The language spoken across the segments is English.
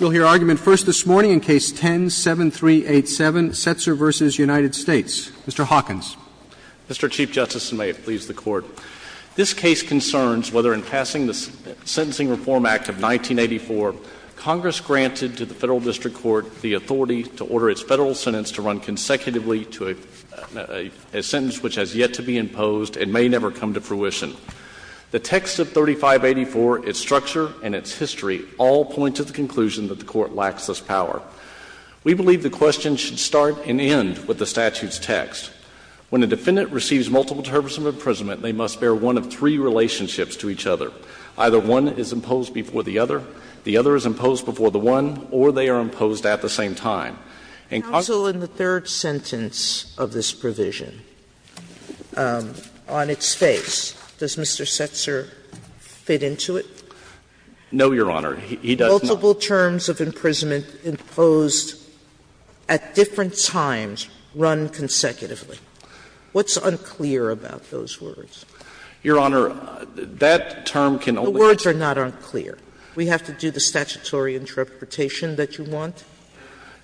We'll hear argument first this morning in Case 10-7387, Setser v. United States. Mr. Hawkins. Mr. Chief Justice, and may it please the Court, this case concerns whether in passing the Sentencing Reform Act of 1984, Congress granted to the Federal District Court the authority to order its federal sentence to run consecutively to a sentence which has yet to be imposed and may never come to fruition. The text of 3584, its structure, and its history all point to the conclusion that the Court lacks this power. We believe the question should start and end with the statute's text. When a defendant receives multiple terms of imprisonment, they must bear one of three relationships to each other. Either one is imposed before the other, the other is imposed before the one, or they are imposed at the same time. Sotomayor, in the third sentence of this provision, on its face, does Mr. Setser fit into it? No, Your Honor. He does not. Multiple terms of imprisonment imposed at different times run consecutively. What's unclear about those words? Your Honor, that term can only be used. The words are not unclear. We have to do the statutory interpretation that you want?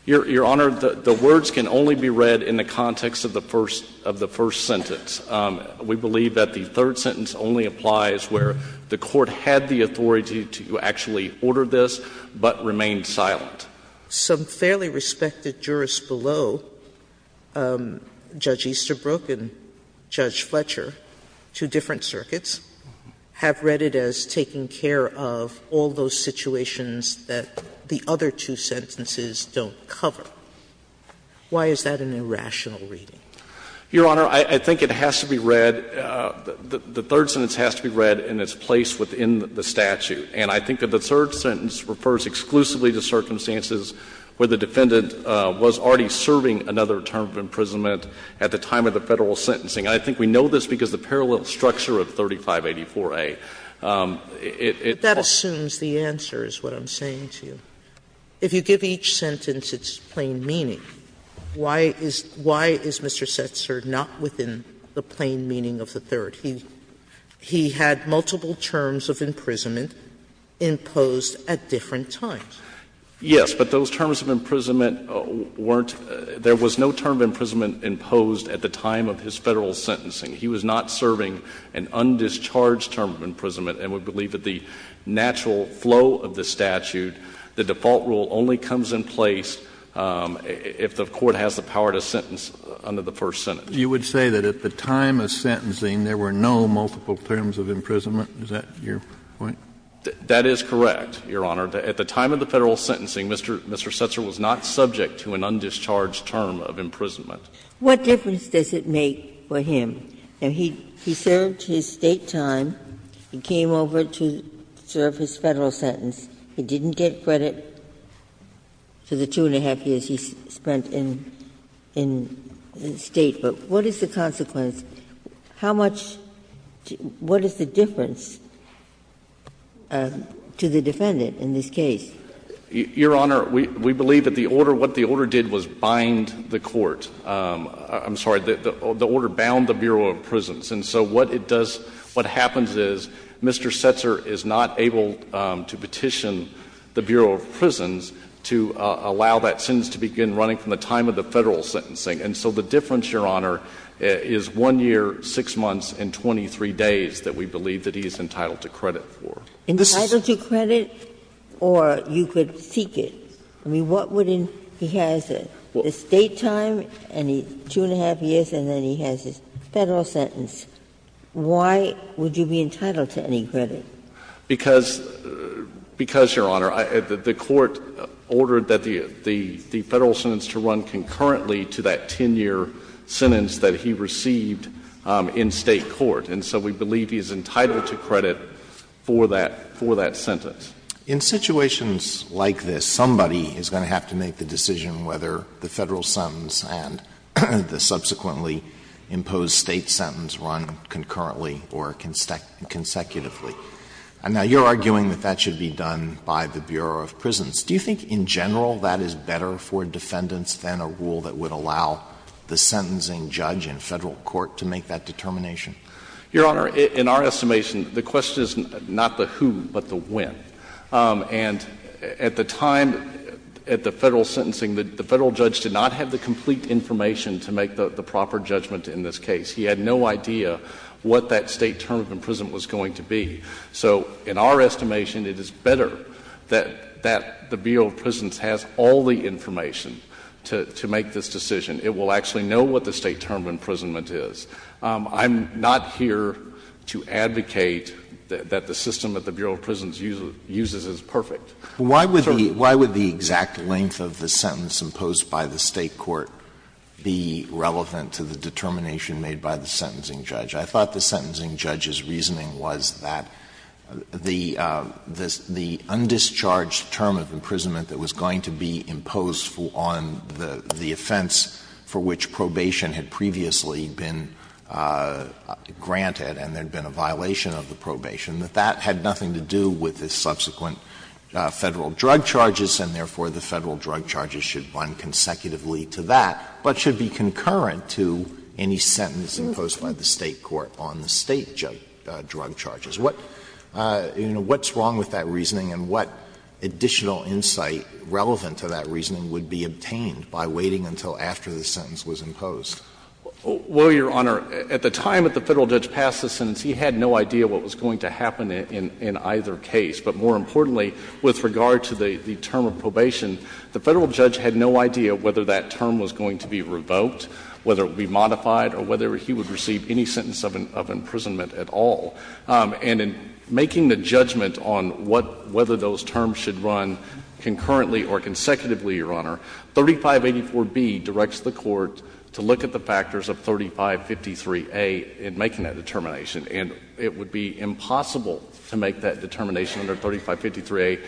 Your Honor, the words can only be read in the context of the first sentence. We believe that the third sentence only applies where the Court had the authority to actually order this but remained silent. Some fairly respected jurists below, Judge Easterbrook and Judge Fletcher, two different Why is that an irrational reading? Your Honor, I think it has to be read, the third sentence has to be read in its place within the statute, and I think that the third sentence refers exclusively to circumstances where the defendant was already serving another term of imprisonment at the time of the Federal sentencing. I think we know this because of the parallel structure of 3584a. Sotomayor, but that assumes the answer is what I'm saying to you. If you give each sentence its plain meaning, why is Mr. Setzer not within the plain meaning of the third? He had multiple terms of imprisonment imposed at different times. Yes, but those terms of imprisonment weren't – there was no term of imprisonment imposed at the time of his Federal sentencing. He was not serving an undischarged term of imprisonment, and we believe that the natural flow of the statute, the default rule only comes in place if the Court has the power to sentence under the first sentence. You would say that at the time of sentencing there were no multiple terms of imprisonment? Is that your point? That is correct, Your Honor. At the time of the Federal sentencing, Mr. Setzer was not subject to an undischarged term of imprisonment. What difference does it make for him? He served his State time. He came over to serve his Federal sentence. He didn't get credit for the two and a half years he spent in State. But what is the consequence? How much – what is the difference to the defendant in this case? Your Honor, we believe that the order – what the order did was bind the Court. I'm sorry. The order bound the Bureau of Prisons. And so what it does, what happens is Mr. Setzer is not able to petition the Bureau of Prisons to allow that sentence to begin running from the time of the Federal sentencing. And so the difference, Your Honor, is one year, six months, and 23 days that we believe that he is entitled to credit for. Entitled to credit, or you could seek it? I mean, what would he – he has the State time and two and a half years, and then he has his Federal sentence. Why would you be entitled to any credit? Because, Your Honor, the Court ordered that the Federal sentence to run concurrently to that 10-year sentence that he received in State court. And so we believe he is entitled to credit for that – for that sentence. In situations like this, somebody is going to have to make the decision whether the Federal sentence and the subsequently imposed State sentence run concurrently or consecutively. Now, you're arguing that that should be done by the Bureau of Prisons. Do you think in general that is better for defendants than a rule that would allow the sentencing judge in Federal court to make that determination? Your Honor, in our estimation, the question is not the who, but the when. And at the time, at the Federal sentencing, the Federal judge did not have the complete information to make the proper judgment in this case. He had no idea what that State term of imprisonment was going to be. So in our estimation, it is better that the Bureau of Prisons has all the information to make this decision. It will actually know what the State term of imprisonment is. I'm not here to advocate that the system that the Bureau of Prisons uses is perfect. Alito, why would the exact length of the sentence imposed by the State court be relevant to the determination made by the sentencing judge? I thought the sentencing judge's reasoning was that the undischarged term of imprisonment that was going to be imposed on the offense for which probation had previously been granted, and there had been a violation of the probation, that that had nothing to do with the subsequent Federal drug charges, and therefore the Federal drug charges should run consecutively to that, but should be concurrent to any sentence imposed by the State court on the State drug charges. What's wrong with that reasoning and what additional insight relevant to that reasoning would be obtained by waiting until after the sentence was imposed? Well, Your Honor, at the time that the Federal judge passed the sentence, he had no idea what was going to happen in either case. But more importantly, with regard to the term of probation, the Federal judge had no idea whether that term was going to be revoked, whether it would be modified, or whether he would receive any sentence of imprisonment at all. And in making the judgment on what — whether those terms should run concurrently or consecutively, Your Honor, 3584B directs the Court to look at the factors of 3553A in making that determination, and it would be impossible to make that determination under 3553A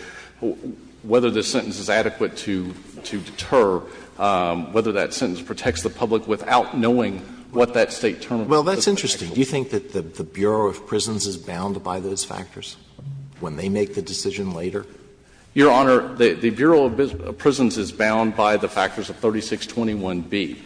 whether the sentence is adequate to deter, whether that sentence protects the public without knowing what that State term of probation would be. Well, that's interesting. Do you think that the Bureau of Prisons is bound by those factors when they make the decision later? Your Honor, the Bureau of Prisons is bound by the factors of 3621B,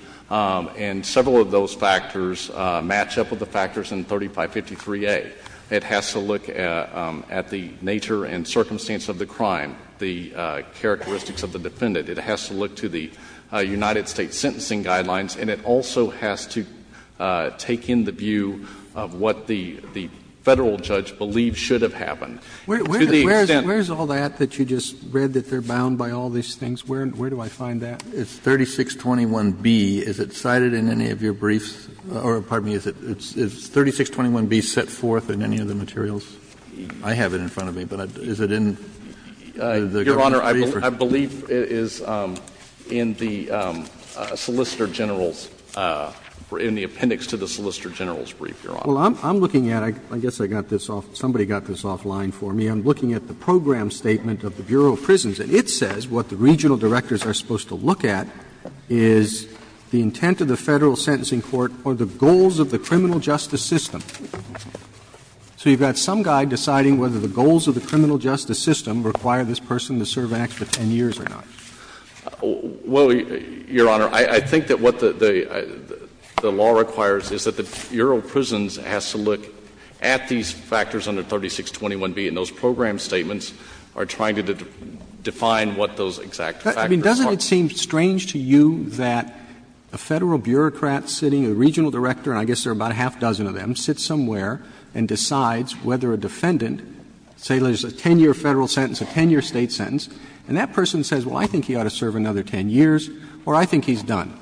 and several of those factors match up with the factors in 3553A. It has to look at the nature and circumstance of the crime, the characteristics of the defendant. It has to look to the United States sentencing guidelines, and it also has to take in the view of what the Federal judge believes should have happened. To the extent that you just read that they're bound by all these things, where do I find that? It's 3621B. Is it cited in any of your briefs? Or, pardon me, is it 3621B set forth in any of the materials? I have it in front of me, but is it in the government brief? Your Honor, I believe it is in the Solicitor General's, in the appendix to the Solicitor General's brief, Your Honor. Well, I'm looking at it. I guess I got this off — somebody got this offline for me. I'm looking at the program statement of the Bureau of Prisons, and it says what the regional directors are supposed to look at is the intent of the Federal sentencing court or the goals of the criminal justice system. So you've got some guy deciding whether the goals of the criminal justice system require this person to serve acts for 10 years or not. Well, Your Honor, I think that what the law requires is that the Bureau of Prisons has to look at these factors under 3621B, and those program statements are trying to define what those exact factors are. I mean, doesn't it seem strange to you that a Federal bureaucrat sitting, a regional director, and I guess there are about a half dozen of them, sits somewhere and decides whether a defendant, say, there's a 10-year Federal sentence, a 10-year State sentence, and that person says, well, I think he ought to serve another 10 years or I think he's done?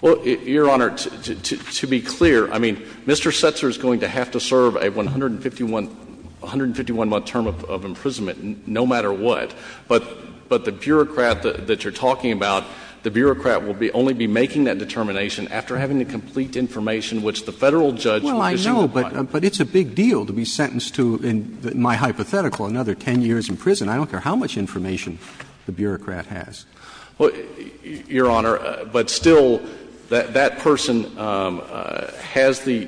Well, Your Honor, to be clear, I mean, Mr. Setzer is going to have to serve a 151-month term of imprisonment no matter what, but the bureaucrat that you're talking about, the bureaucrat will only be making that determination after having the complete information which the Federal judge would assume applies. Well, I know, but it's a big deal to be sentenced to, in my hypothetical, another 10 years in prison. I don't care how much information the bureaucrat has. Well, Your Honor, but still, that person has the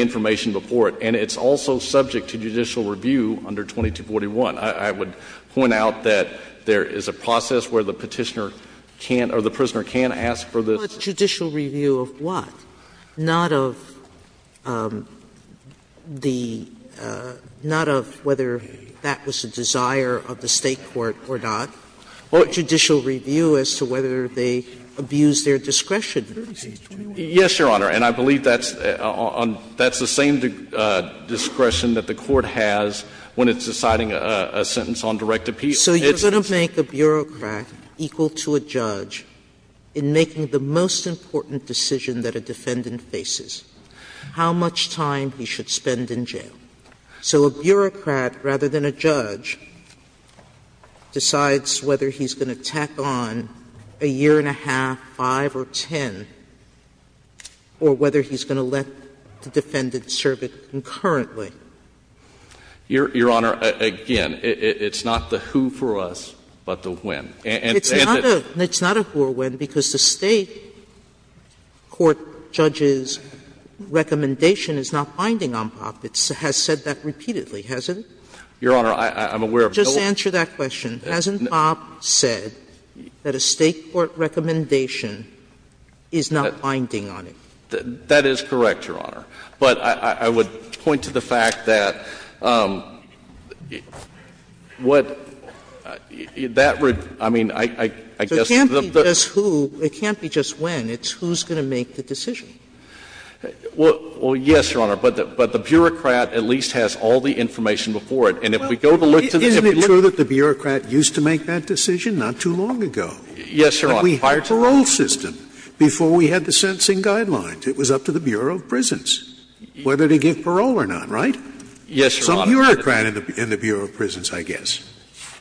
information before it, and it's also subject to judicial review under 2241. I would point out that there is a process where the Petitioner can't or the prisoner can't ask for this. But judicial review of what? Sotomayor, not of the – not of whether that was a desire of the State court or not, or judicial review as to whether they abused their discretion. Yes, Your Honor, and I believe that's on – that's the same discretion that the Court has when it's deciding a sentence on direct appeal. So you're going to make a bureaucrat equal to a judge in making the most important decision that a defendant faces, how much time he should spend in jail. So a bureaucrat, rather than a judge, decides whether he's going to tack on a year and a half, 5 or 10, or whether he's going to let the defendant serve it concurrently. Your Honor, again, it's not the who for us, but the when. Sotomayor, it's not a who or when because the State court judge's recommendation is not binding on Popp. It has said that repeatedly, hasn't it? Your Honor, I'm aware of no other question. Just answer that question. Hasn't Popp said that a State court recommendation is not binding on it? That is correct, Your Honor. But I would point to the fact that what that would – I mean, I guess the – So it can't be just who, it can't be just when. It's who's going to make the decision. Well, yes, Your Honor. But the bureaucrat at least has all the information before it. And if we go to look to the – Isn't it true that the bureaucrat used to make that decision not too long ago? Yes, Your Honor. But we had a parole system before we had the sentencing guidelines. It was up to the Bureau of Prisons whether to give parole or not, right? Yes, Your Honor. Some bureaucrat in the Bureau of Prisons, I guess.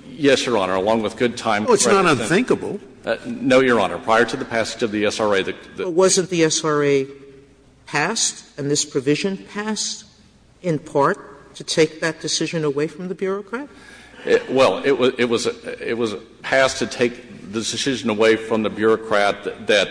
Yes, Your Honor. Along with good time. Oh, it's not unthinkable. No, Your Honor. Prior to the passage of the SRA, the – But wasn't the SRA passed, and this provision passed in part to take that decision away from the bureaucrat? Well, it was passed to take the decision away from the bureaucrat that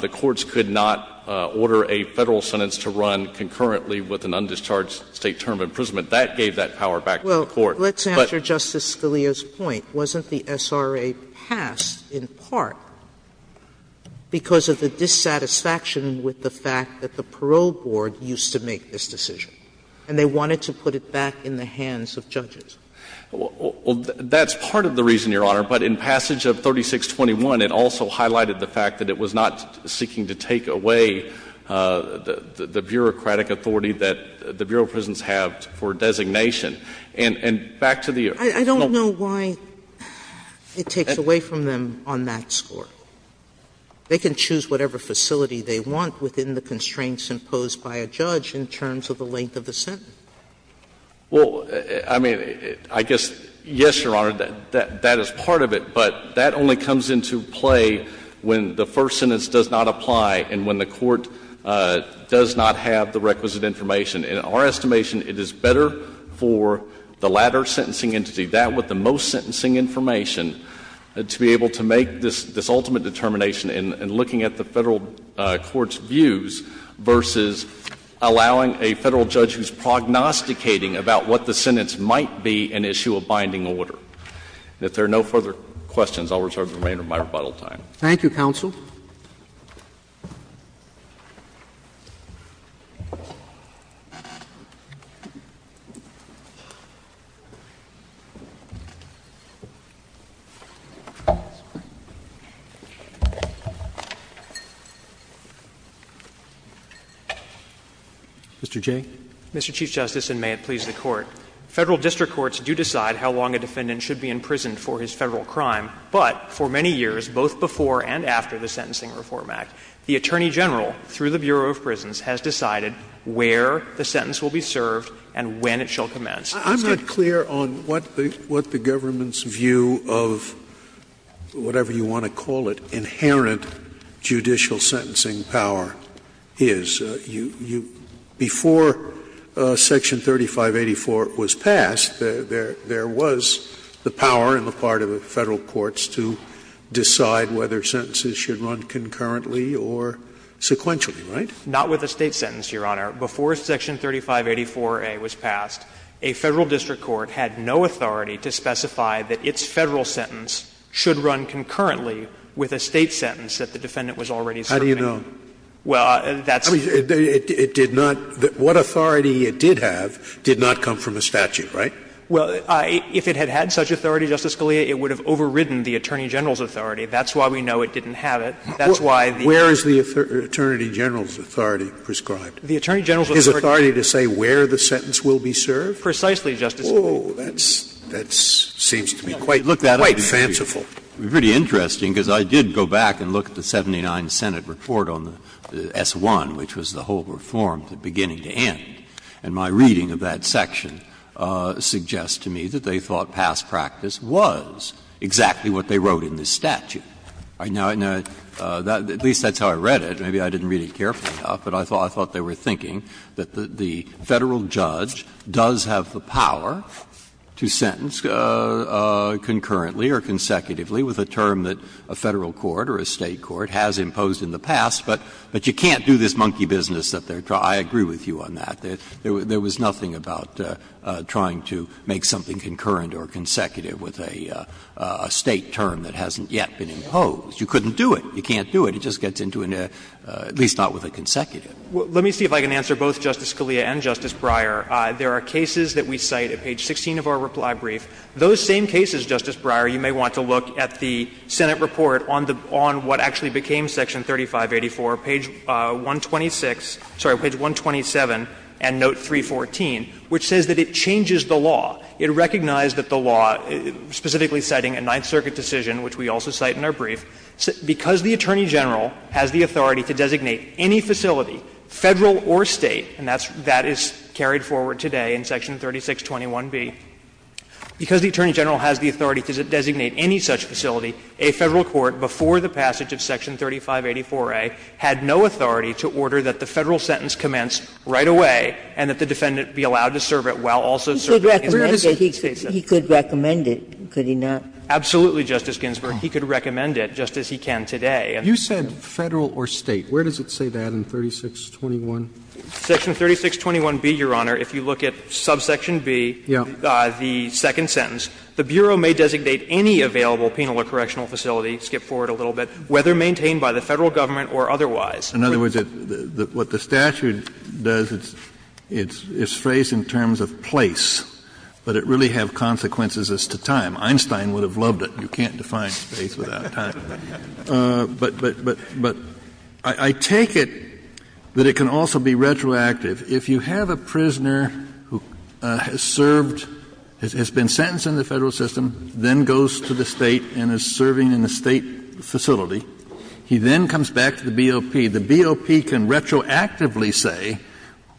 the courts could not order a Federal sentence to run concurrently with an undischarged State term of imprisonment. That gave that power back to the court. Well, let's answer Justice Scalia's point. Wasn't the SRA passed in part because of the dissatisfaction with the fact that the parole board used to make this decision? And they wanted to put it back in the hands of judges. Well, that's part of the reason, Your Honor. But in passage of 3621, it also highlighted the fact that it was not seeking to take away the bureaucratic authority that the Bureau of Prisons have for designation. And back to the – I don't know why it takes away from them on that score. They can choose whatever facility they want within the constraints imposed by a judge in terms of the length of the sentence. Well, I mean, I guess, yes, Your Honor, that is part of it. But that only comes into play when the first sentence does not apply and when the court does not have the requisite information. In our estimation, it is better for the latter sentencing entity, that with the most sentencing information, to be able to make this ultimate determination in looking at the Federal court's views versus allowing a Federal judge who's prognosticated about what the sentence might be an issue of binding order. And if there are no further questions, I'll reserve the remainder of my rebuttal time. Thank you, Counsel. Mr. Jay. Mr. Chief Justice, and may it please the Court. Federal district courts do decide how long a defendant should be in prison for his Federal crime. But for many years, both before and after the Sentencing Reform Act, the Attorney General, through the Bureau of Prisons, has decided where the sentence will be served and when it shall commence. I'm not clear on what the Government's view of whatever you want to call it, inherent judicial sentencing power is. Before Section 3584 was passed, there was the power on the part of the Federal courts to decide whether sentences should run concurrently or sequentially, right? Not with a State sentence, Your Honor. Before Section 3584a was passed, a Federal district court had no authority to specify that its Federal sentence should run concurrently with a State sentence that the defendant was already serving. How do you know? Well, that's the point. It did not – what authority it did have did not come from a statute, right? Well, if it had had such authority, Justice Scalia, it would have overridden the Attorney General's authority. That's why we know it didn't have it. That's why the attorney general's authority was prescribed. His authority to say where the sentence will be served? Precisely, Justice Scalia. Oh, that seems to me quite fanciful. Pretty interesting, because I did go back and look at the 79th Senate report on the S. 1, which was the whole reform beginning to end, and my reading of that section suggests to me that they thought past practice was exactly what they wrote in this statute. Now, at least that's how I read it. Maybe I didn't read it carefully enough, but I thought they were thinking that the there was nothing about trying to make something concurrent or consecutive with a State term that hasn't yet been imposed. You couldn't do it. You can't do it. It just gets into an – at least not with a consecutive. Well, let me see if I can answer both Justice Scalia and Justice Breyer. There are cases that we cite at page 16 of our reply brief. Those seem to me to be cases that have been imposed in the past. In those same cases, Justice Breyer, you may want to look at the Senate report on the – on what actually became section 3584, page 126 – sorry, page 127 and note 314, which says that it changes the law. It recognized that the law, specifically citing a Ninth Circuit decision, which we also cite in our brief, because the Attorney General has the authority to designate any facility, Federal or State, and that's – that is carried forward today in section 3621B, because the Attorney General has the authority to designate any such facility, a Federal court before the passage of section 3584A had no authority to order that the Federal sentence commence right away and that the defendant be allowed to serve it while also serving his State sentence. Where does it say that? He could recommend it, could he not? Absolutely, Justice Ginsburg. He could recommend it, just as he can today. You said Federal or State. Where does it say that in 3621? Section 3621B, Your Honor, if you look at subsection B, the second sentence, the Bureau may designate any available penal or correctional facility, skip forward a little bit, whether maintained by the Federal government or otherwise. In other words, what the statute does, it's phrased in terms of place, but it really have consequences as to time. Einstein would have loved it. You can't define space without time. But I take it that it can also be retroactive. If you have a prisoner who has served, has been sentenced in the Federal system, then goes to the State and is serving in a State facility, he then comes back to the BOP. The BOP can retroactively say,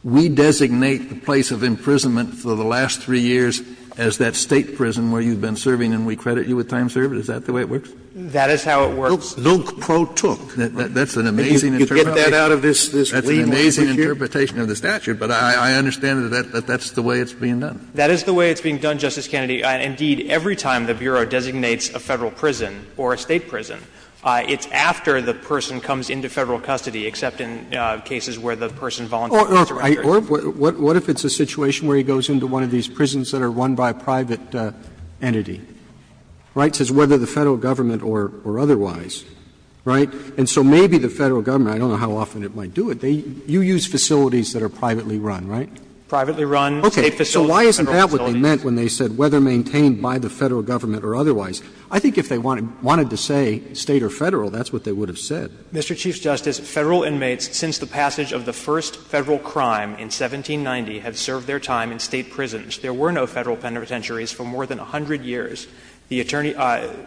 we designate the place of imprisonment for the last three years as that State prison where you've been serving and we credit you with time served. Is that the way it works? That is how it works. Luke protook. That's an amazing interpretation. You can get that out of this legal procedure. That's an amazing interpretation of the statute, but I understand that that's the way it's being done. That is the way it's being done, Justice Kennedy. Indeed, every time the Bureau designates a Federal prison or a State prison, it's after the person comes into Federal custody, except in cases where the person volunteers or enters. Or what if it's a situation where he goes into one of these prisons that are run by a private entity? Right? It says whether the Federal government or otherwise. Right? And so maybe the Federal government, I don't know how often it might do it, you use facilities that are privately run, right? Privately run State facilities or Federal facilities. Okay. So why isn't that what they meant when they said whether maintained by the Federal government or otherwise? I think if they wanted to say State or Federal, that's what they would have said. Mr. Chief Justice, Federal inmates since the passage of the first Federal crime in 1790 have served their time in State prisons. There were no Federal penitentiaries for more than 100 years. The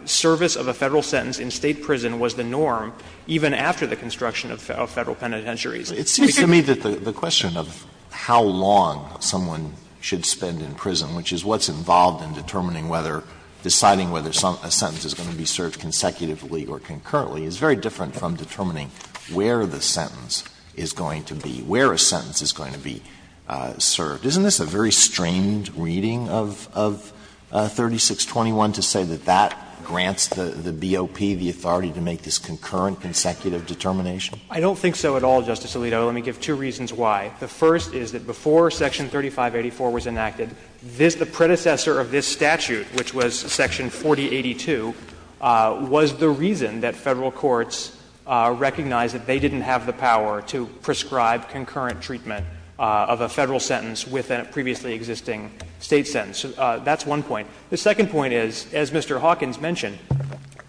service of a Federal sentence in State prison was the norm even after the construction of Federal penitentiaries. It seems to me that the question of how long someone should spend in prison, which is what's involved in determining whether, deciding whether a sentence is going to be served consecutively or concurrently, is very different from determining where the sentence is going to be, where a sentence is going to be served. Isn't this a very strained reading of 3621 to say that that grants the BOP the authority to make this concurrent, consecutive determination? I don't think so at all, Justice Alito. Let me give two reasons why. The first is that before Section 3584 was enacted, the predecessor of this statute, which was Section 4082, was the reason that Federal courts recognized that they didn't have the power to prescribe concurrent treatment of a Federal sentence with a previously existing State sentence. That's one point. The second point is, as Mr. Hawkins mentioned,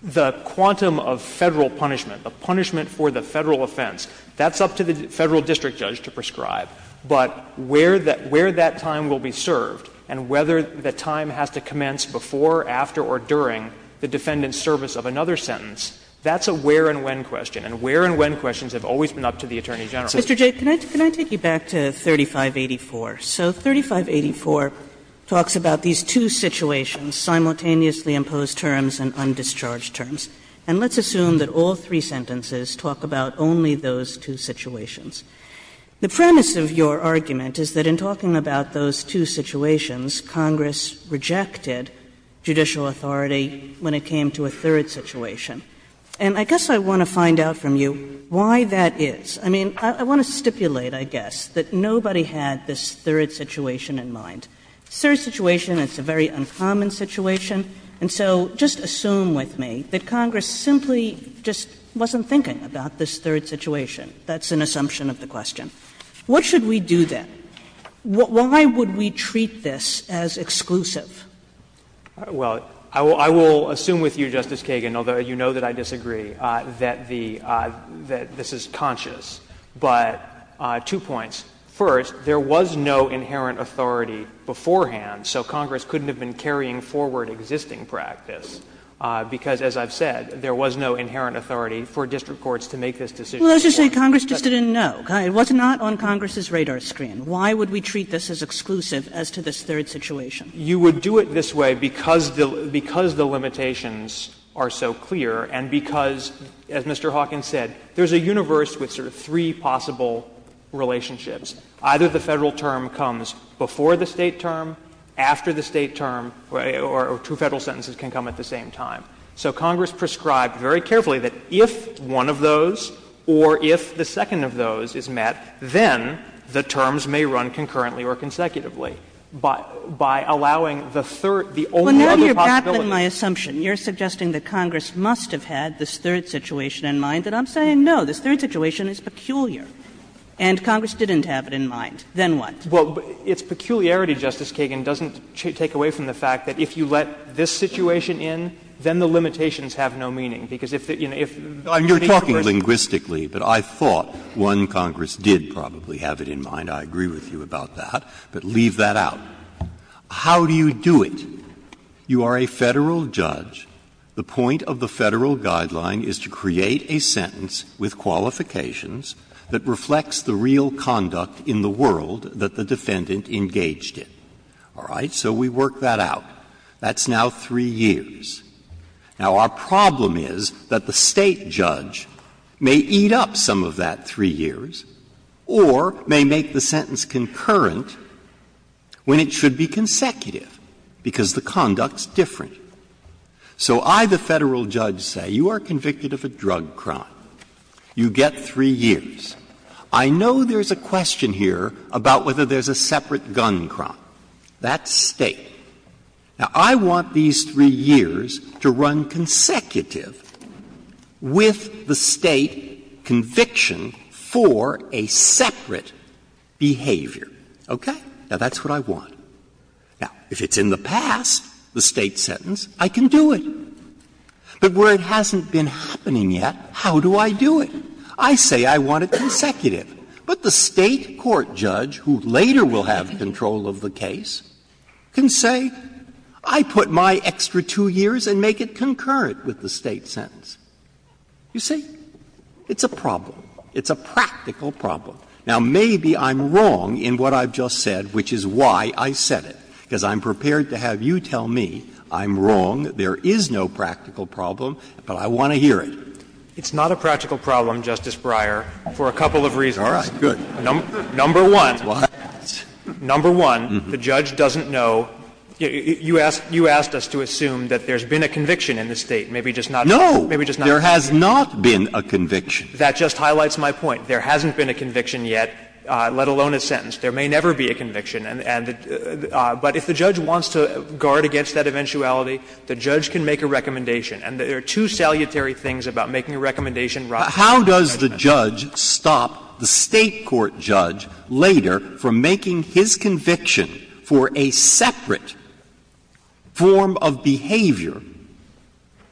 the quantum of Federal punishment, the punishment for the Federal offense, that's up to the Federal district judge to prescribe. But where that time will be served and whether the time has to commence before, after or during the defendant's service of another sentence, that's a where and when question, and where and when questions have always been up to the Attorney General. Sotomayor, can I take you back to 3584? So 3584 talks about these two situations, simultaneously imposed terms and undischarged terms. And let's assume that all three sentences talk about only those two situations. The premise of your argument is that in talking about those two situations, Congress rejected judicial authority when it came to a third situation. And I guess I want to find out from you why that is. I mean, I want to stipulate, I guess, that nobody had this third situation in mind. Third situation, it's a very uncommon situation. And so just assume with me that Congress simply just wasn't thinking about this third situation. That's an assumption of the question. What should we do then? Why would we treat this as exclusive? Well, I will assume with you, Justice Kagan, although you know that I disagree, that the — that this is conscious. But two points. First, there was no inherent authority beforehand, so Congress couldn't have been carrying forward existing practice. Because, as I've said, there was no inherent authority for district courts to make this decision. Well, let's just say Congress just didn't know. It was not on Congress's radar screen. Why would we treat this as exclusive as to this third situation? You would do it this way because the limitations are so clear and because, as Mr. Hawkins said, there's a universe with sort of three possible relationships. Either the Federal term comes before the State term, after the State term, or two Federal sentences can come at the same time. So Congress prescribed very carefully that if one of those or if the second of those is met, then the terms may run concurrently or consecutively. But by allowing the third, the only other possibility. Kagan, you're suggesting that Congress must have had this third situation in mind. And I'm saying, no, this third situation is peculiar, and Congress didn't have it in mind. Then what? Well, its peculiarity, Justice Kagan, doesn't take away from the fact that if you let this situation in, then the limitations have no meaning. Because if the — you know, if any Congress. You're talking linguistically, but I thought one Congress did probably have it in mind. I agree with you about that. But leave that out. How do you do it? You are a Federal judge. The point of the Federal guideline is to create a sentence with qualifications that reflects the real conduct in the world that the defendant engaged in. All right? So we work that out. That's now three years. Now, our problem is that the State judge may eat up some of that three years or may make the sentence concurrent when it should be consecutive, because the conduct's different. So I, the Federal judge, say you are convicted of a drug crime. You get three years. I know there's a question here about whether there's a separate gun crime. That's State. Now, I want these three years to run consecutive with the State conviction for a separate behavior. Okay? Now, that's what I want. Now, if it's in the past, the State sentence, I can do it. But where it hasn't been happening yet, how do I do it? I say I want it consecutive. But the State court judge, who later will have control of the case, can say, I put my extra two years and make it concurrent with the State sentence. You see? It's a problem. It's a practical problem. Now, maybe I'm wrong in what I've just said, which is why I said it, because I'm prepared to have you tell me I'm wrong, there is no practical problem, but I want to hear it. It's not a practical problem, Justice Breyer, for a couple of reasons. All right. Good. Number one, number one, the judge doesn't know. You asked us to assume that there's been a conviction in the State. Maybe just not. No. Maybe just not. There has not been a conviction. That just highlights my point. There hasn't been a conviction yet, let alone a sentence. There may never be a conviction. But if the judge wants to guard against that eventuality, the judge can make a recommendation. And there are two salutary things about making a recommendation. How does the judge stop the State court judge later from making his conviction for a separate form of behavior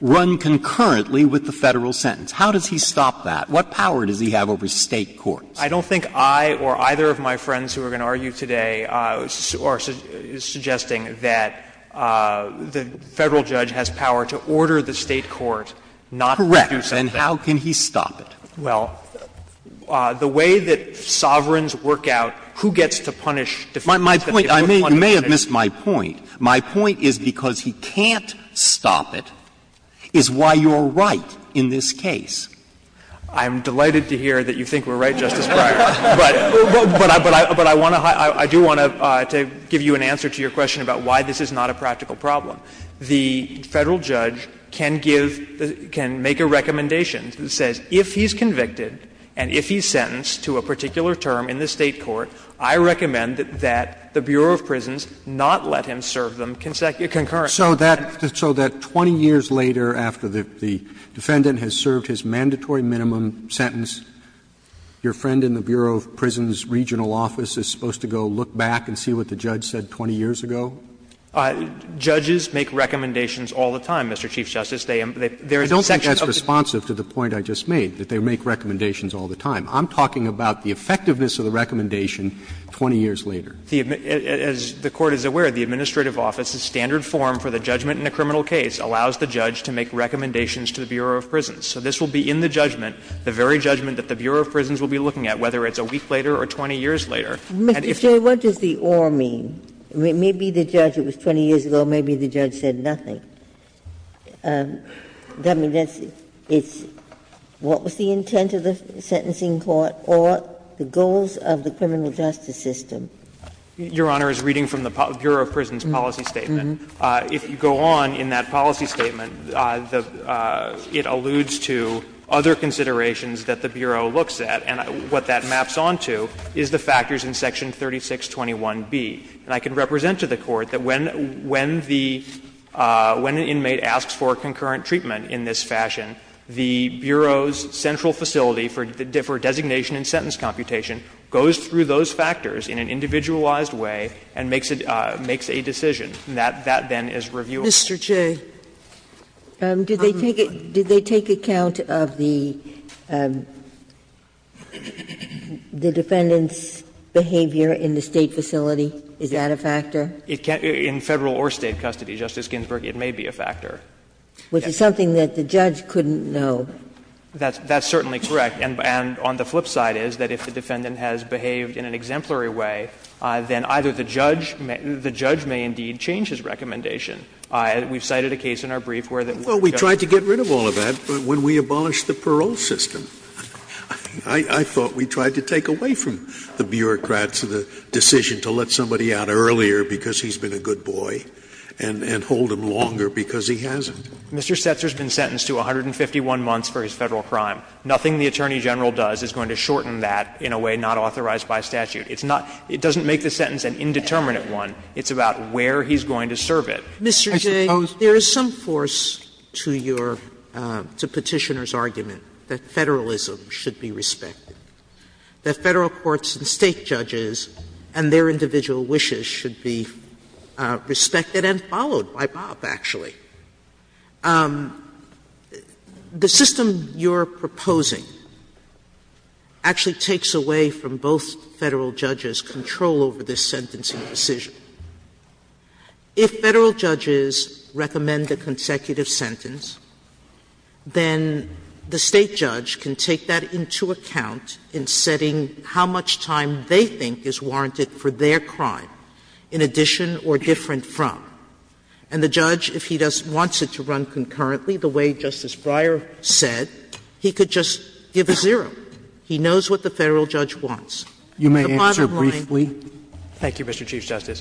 run concurrently with the Federal sentence? How does he stop that? What power does he have over State courts? I don't think I or either of my friends who are going to argue today are suggesting that the Federal judge has power to order the State court not to do something. Correct. And how can he stop it? Well, the way that sovereigns work out who gets to punish defendants. You may have missed my point. My point is because he can't stop it is why you're right in this case. I'm delighted to hear that you think we're right, Justice Breyer. But I do want to give you an answer to your question about why this is not a practical problem. The Federal judge can give, can make a recommendation that says if he's convicted and if he's sentenced to a particular term in the State court, I recommend that the Bureau of Prisons not let him serve them concurrently. So that, so that 20 years later after the defendant has served his mandatory minimum sentence, your friend in the Bureau of Prisons' regional office is supposed to go look back and see what the judge said 20 years ago? Judges make recommendations all the time, Mr. Chief Justice. They, there is a section of the court that says that. I don't think that's responsive to the point I just made, that they make recommendations all the time. I'm talking about the effectiveness of the recommendation 20 years later. The, as the Court is aware, the administrative office, the standard form for the judgment in a criminal case, allows the judge to make recommendations to the Bureau of Prisons. So this will be in the judgment, the very judgment that the Bureau of Prisons will be looking at, whether it's a week later or 20 years later. And if you say what does the or mean? Maybe the judge, it was 20 years ago, maybe the judge said nothing. I mean, that's, it's, what was the intent of the sentencing court or the goals of the Your Honor is reading from the Bureau of Prisons policy statement. If you go on in that policy statement, the, it alludes to other considerations that the Bureau looks at, and what that maps onto is the factors in section 3621b. And I can represent to the Court that when, when the, when an inmate asks for concurrent treatment in this fashion, the Bureau's central facility for designation and sentence computation goes through those factors in an individualized way and makes a decision. That then is reviewable. Sotomayor, did they take account of the defendant's behavior in the State facility? Is that a factor? In Federal or State custody, Justice Ginsburg, it may be a factor. Which is something that the judge couldn't know. That's certainly correct. And on the flip side is that if the defendant has behaved in an exemplary way, then either the judge may, the judge may indeed change his recommendation. We've cited a case in our brief where the judge. Scalia, Well, we tried to get rid of all of that, but when we abolished the parole system, I thought we tried to take away from the bureaucrat the decision to let somebody out earlier because he's been a good boy and hold him longer because he hasn't. Mr. Setzer has been sentenced to 151 months for his Federal crime. Nothing the Attorney General does is going to shorten that in a way not authorized by statute. It's not, it doesn't make the sentence an indeterminate one. It's about where he's going to serve it. Sotomayor, Mr. Jay, there is some force to your, to Petitioner's argument that Federalism should be respected, that Federal courts and State judges and their individual wishes should be respected and followed by Bob, actually. The system you're proposing actually takes away from both Federal judges' control over this sentencing decision. If Federal judges recommend a consecutive sentence, then the State judge can take that into account in setting how much time they think is warranted for their crime in addition or different from. And the judge, if he wants it to run concurrently the way Justice Breyer said, he could just give a zero. He knows what the Federal judge wants. The bottom line is that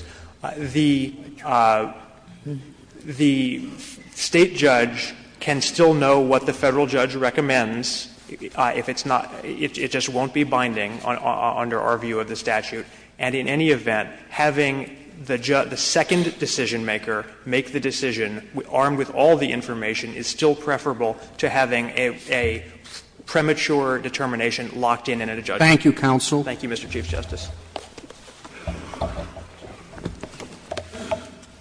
the State judge can still know what the Federal judge recommends if it's not, it just won't be binding under our view of the statute, and in any event, having the second decisionmaker make the decision armed with all the information is still preferable to having a premature determination locked in at a judgment. Thank you, counsel. Thank you, Mr. Chief Justice.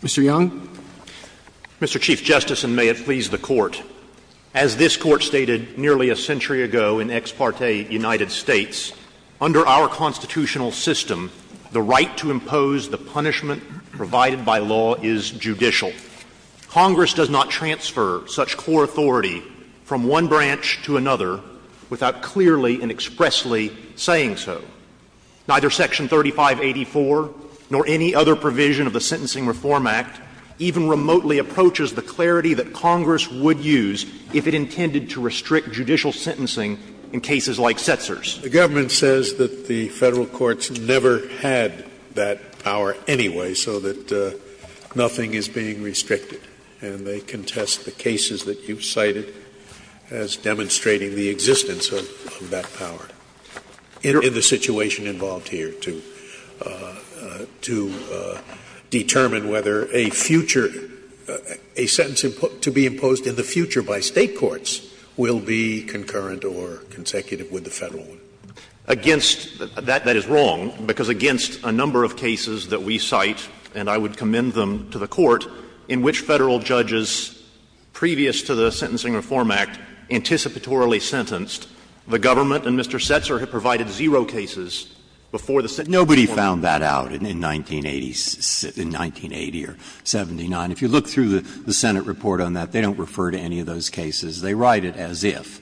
Mr. Young. Mr. Chief Justice, and may it please the Court, as this Court stated nearly a century ago in Ex parte United States, under our constitutional system, the right to impose the punishment provided by law is judicial. Congress does not transfer such core authority from one branch to another without clearly and expressly saying so. Neither Section 3584 nor any other provision of the Sentencing Reform Act even remotely approaches the clarity that Congress would use if it intended to restrict judicial sentencing in cases like Setzer's. The government says that the Federal courts never had that power anyway, so that nothing is being restricted, and they contest the cases that you cited as demonstrating the existence of that power in the situation involved here to determine whether a future – a sentence to be imposed in the future by State courts will be concurrent or consecutive with the Federal one. Against – that is wrong, because against a number of cases that we cite, and I would commend them to the Court, in which Federal judges previous to the Sentencing Reform Act anticipatorily sentenced, the government and Mr. Setzer provided zero cases before the Sentencing Reform Act. Nobody found that out in 1980 or 79. If you look through the Senate report on that, they don't refer to any of those cases. They write it as if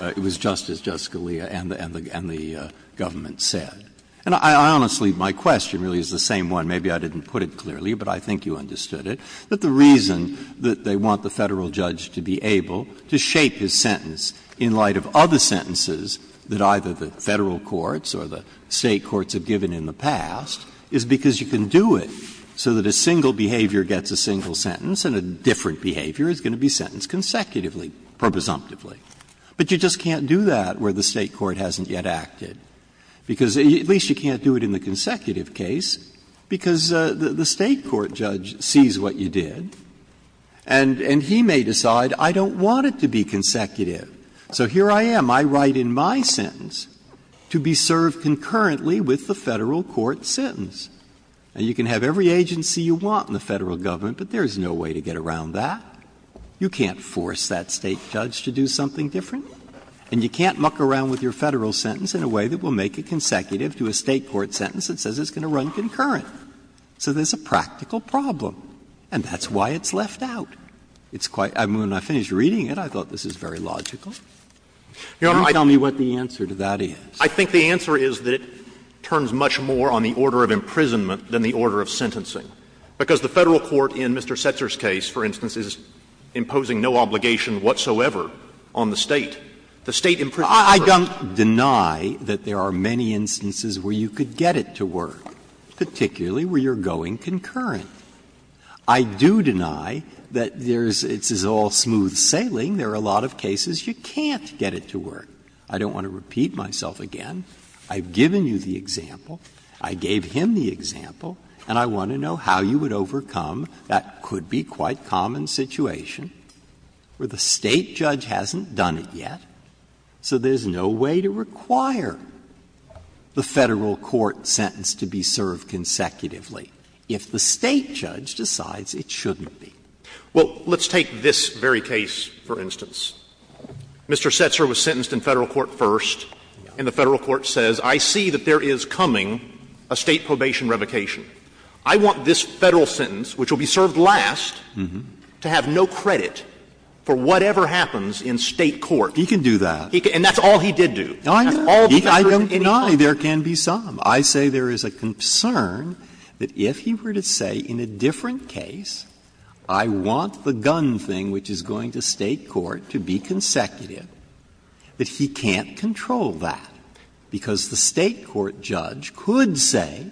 it was just as Justice Scalia and the government said. And I honestly – my question really is the same one. Maybe I didn't put it clearly, but I think you understood it. That the reason that they want the Federal judge to be able to shape his sentence in light of other sentences that either the Federal courts or the State courts have given in the past is because you can do it so that a single behavior gets a single sentence and a different behavior is going to be sentenced consecutively or presumptively. But you just can't do that where the State court hasn't yet acted, because at least you can't do it in the consecutive case, because the State court judge sees what you did, and he may decide, I don't want it to be consecutive. So here I am. I write in my sentence to be served concurrently with the Federal court's sentence. And you can have every agency you want in the Federal government, but there is no way to get around that. You can't force that State judge to do something different, and you can't muck around with your Federal sentence in a way that will make it consecutive to a State court sentence that says it's going to run concurrent. So there's a practical problem, and that's why it's left out. It's quite — when I finished reading it, I thought this is very logical. You don't tell me what the answer to that is. I think the answer is that it turns much more on the order of imprisonment than the order of sentencing, because the Federal court in Mr. Setzer's case, for instance, is imposing no obligation whatsoever on the State. The State imprisons the person. I don't deny that there are many instances where you could get it to work, particularly where you're going concurrent. I do deny that there's — it's all smooth sailing. There are a lot of cases you can't get it to work. I don't want to repeat myself again. I've given you the example. I gave him the example. And I want to know how you would overcome that could-be-quite-common situation where the State judge hasn't done it yet, so there's no way to require the Federal court sentence to be served consecutively. If the State judge decides it shouldn't be. Well, let's take this very case, for instance. Mr. Setzer was sentenced in Federal court first, and the Federal court says, I see that there is coming a State probation revocation. I want this Federal sentence, which will be served last, to have no credit for whatever happens in State court. He can do that. And that's all he did do. No, I know. I don't deny there can be some. I say there is a concern that if he were to say in a different case, I want the gun thing which is going to State court to be consecutive, that he can't control that, because the State court judge could say,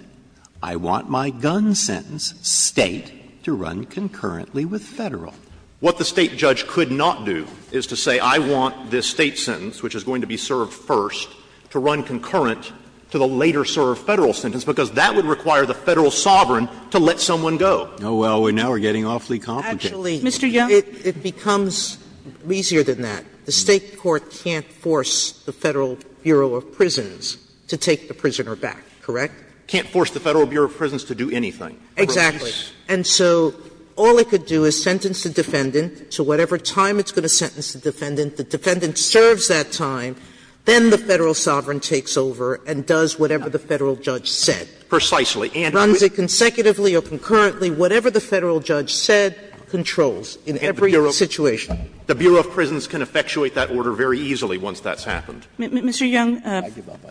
I want my gun sentence, State, to run concurrently with Federal. What the State judge could not do is to say, I want this State sentence, which is going to be served first, to run concurrent to the later-served Federal sentence, because that would require the Federal sovereign to let someone go. Oh, well, we now are getting awfully competent. Actually, it becomes easier than that. The State court can't force the Federal Bureau of Prisons to take the prisoner back, correct? Can't force the Federal Bureau of Prisons to do anything. Exactly. And so all it could do is sentence the defendant to whatever time it's going to sentence the defendant. The defendant serves that time, then the Federal sovereign takes over and does whatever the Federal judge said. Precisely. And runs it consecutively or concurrently, whatever the Federal judge said controls in every situation. The Bureau of Prisons can effectuate that order very easily once that's happened. Mr. Young,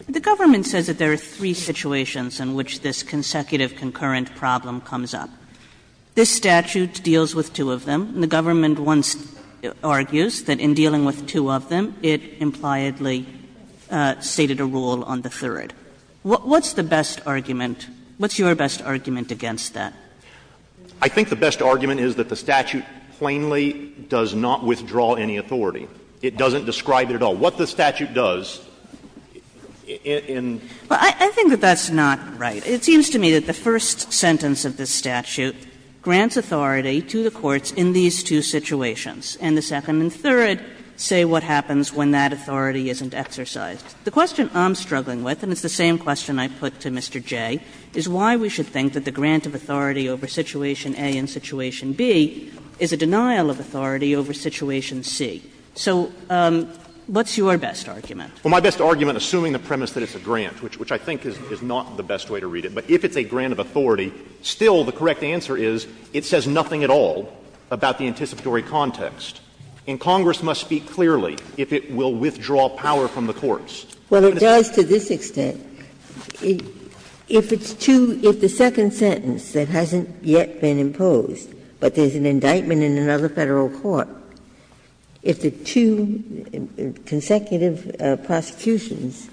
the government says that there are three situations in which this consecutive concurrent problem comes up. This statute deals with two of them. The government once argues that in dealing with two of them, it impliedly stated a rule on the third. What's the best argument? What's your best argument against that? I think the best argument is that the statute plainly does not withdraw any authority. It doesn't describe it at all. What the statute does in the case of this particular case is that it does not withdraw any authority. Kagan is right in saying that the statute does not withdraw any authority in these two situations, and the second and third say what happens when that authority isn't exercised. The question I'm struggling with, and it's the same question I put to Mr. Jay, is why we should think that the grant of authority over situation A and situation B is a denial of authority over situation C. So what's your best argument? Well, my best argument, assuming the premise that it's a grant, which I think is not the best way to read it, but if it's a grant of authority, still the correct answer is it says nothing at all about the anticipatory context. And Congress must speak clearly if it will withdraw power from the courts. Well, it does to this extent. If it's two — if the second sentence that hasn't yet been imposed, but there's an indictment in another Federal court, if the two consecutive prosecutions,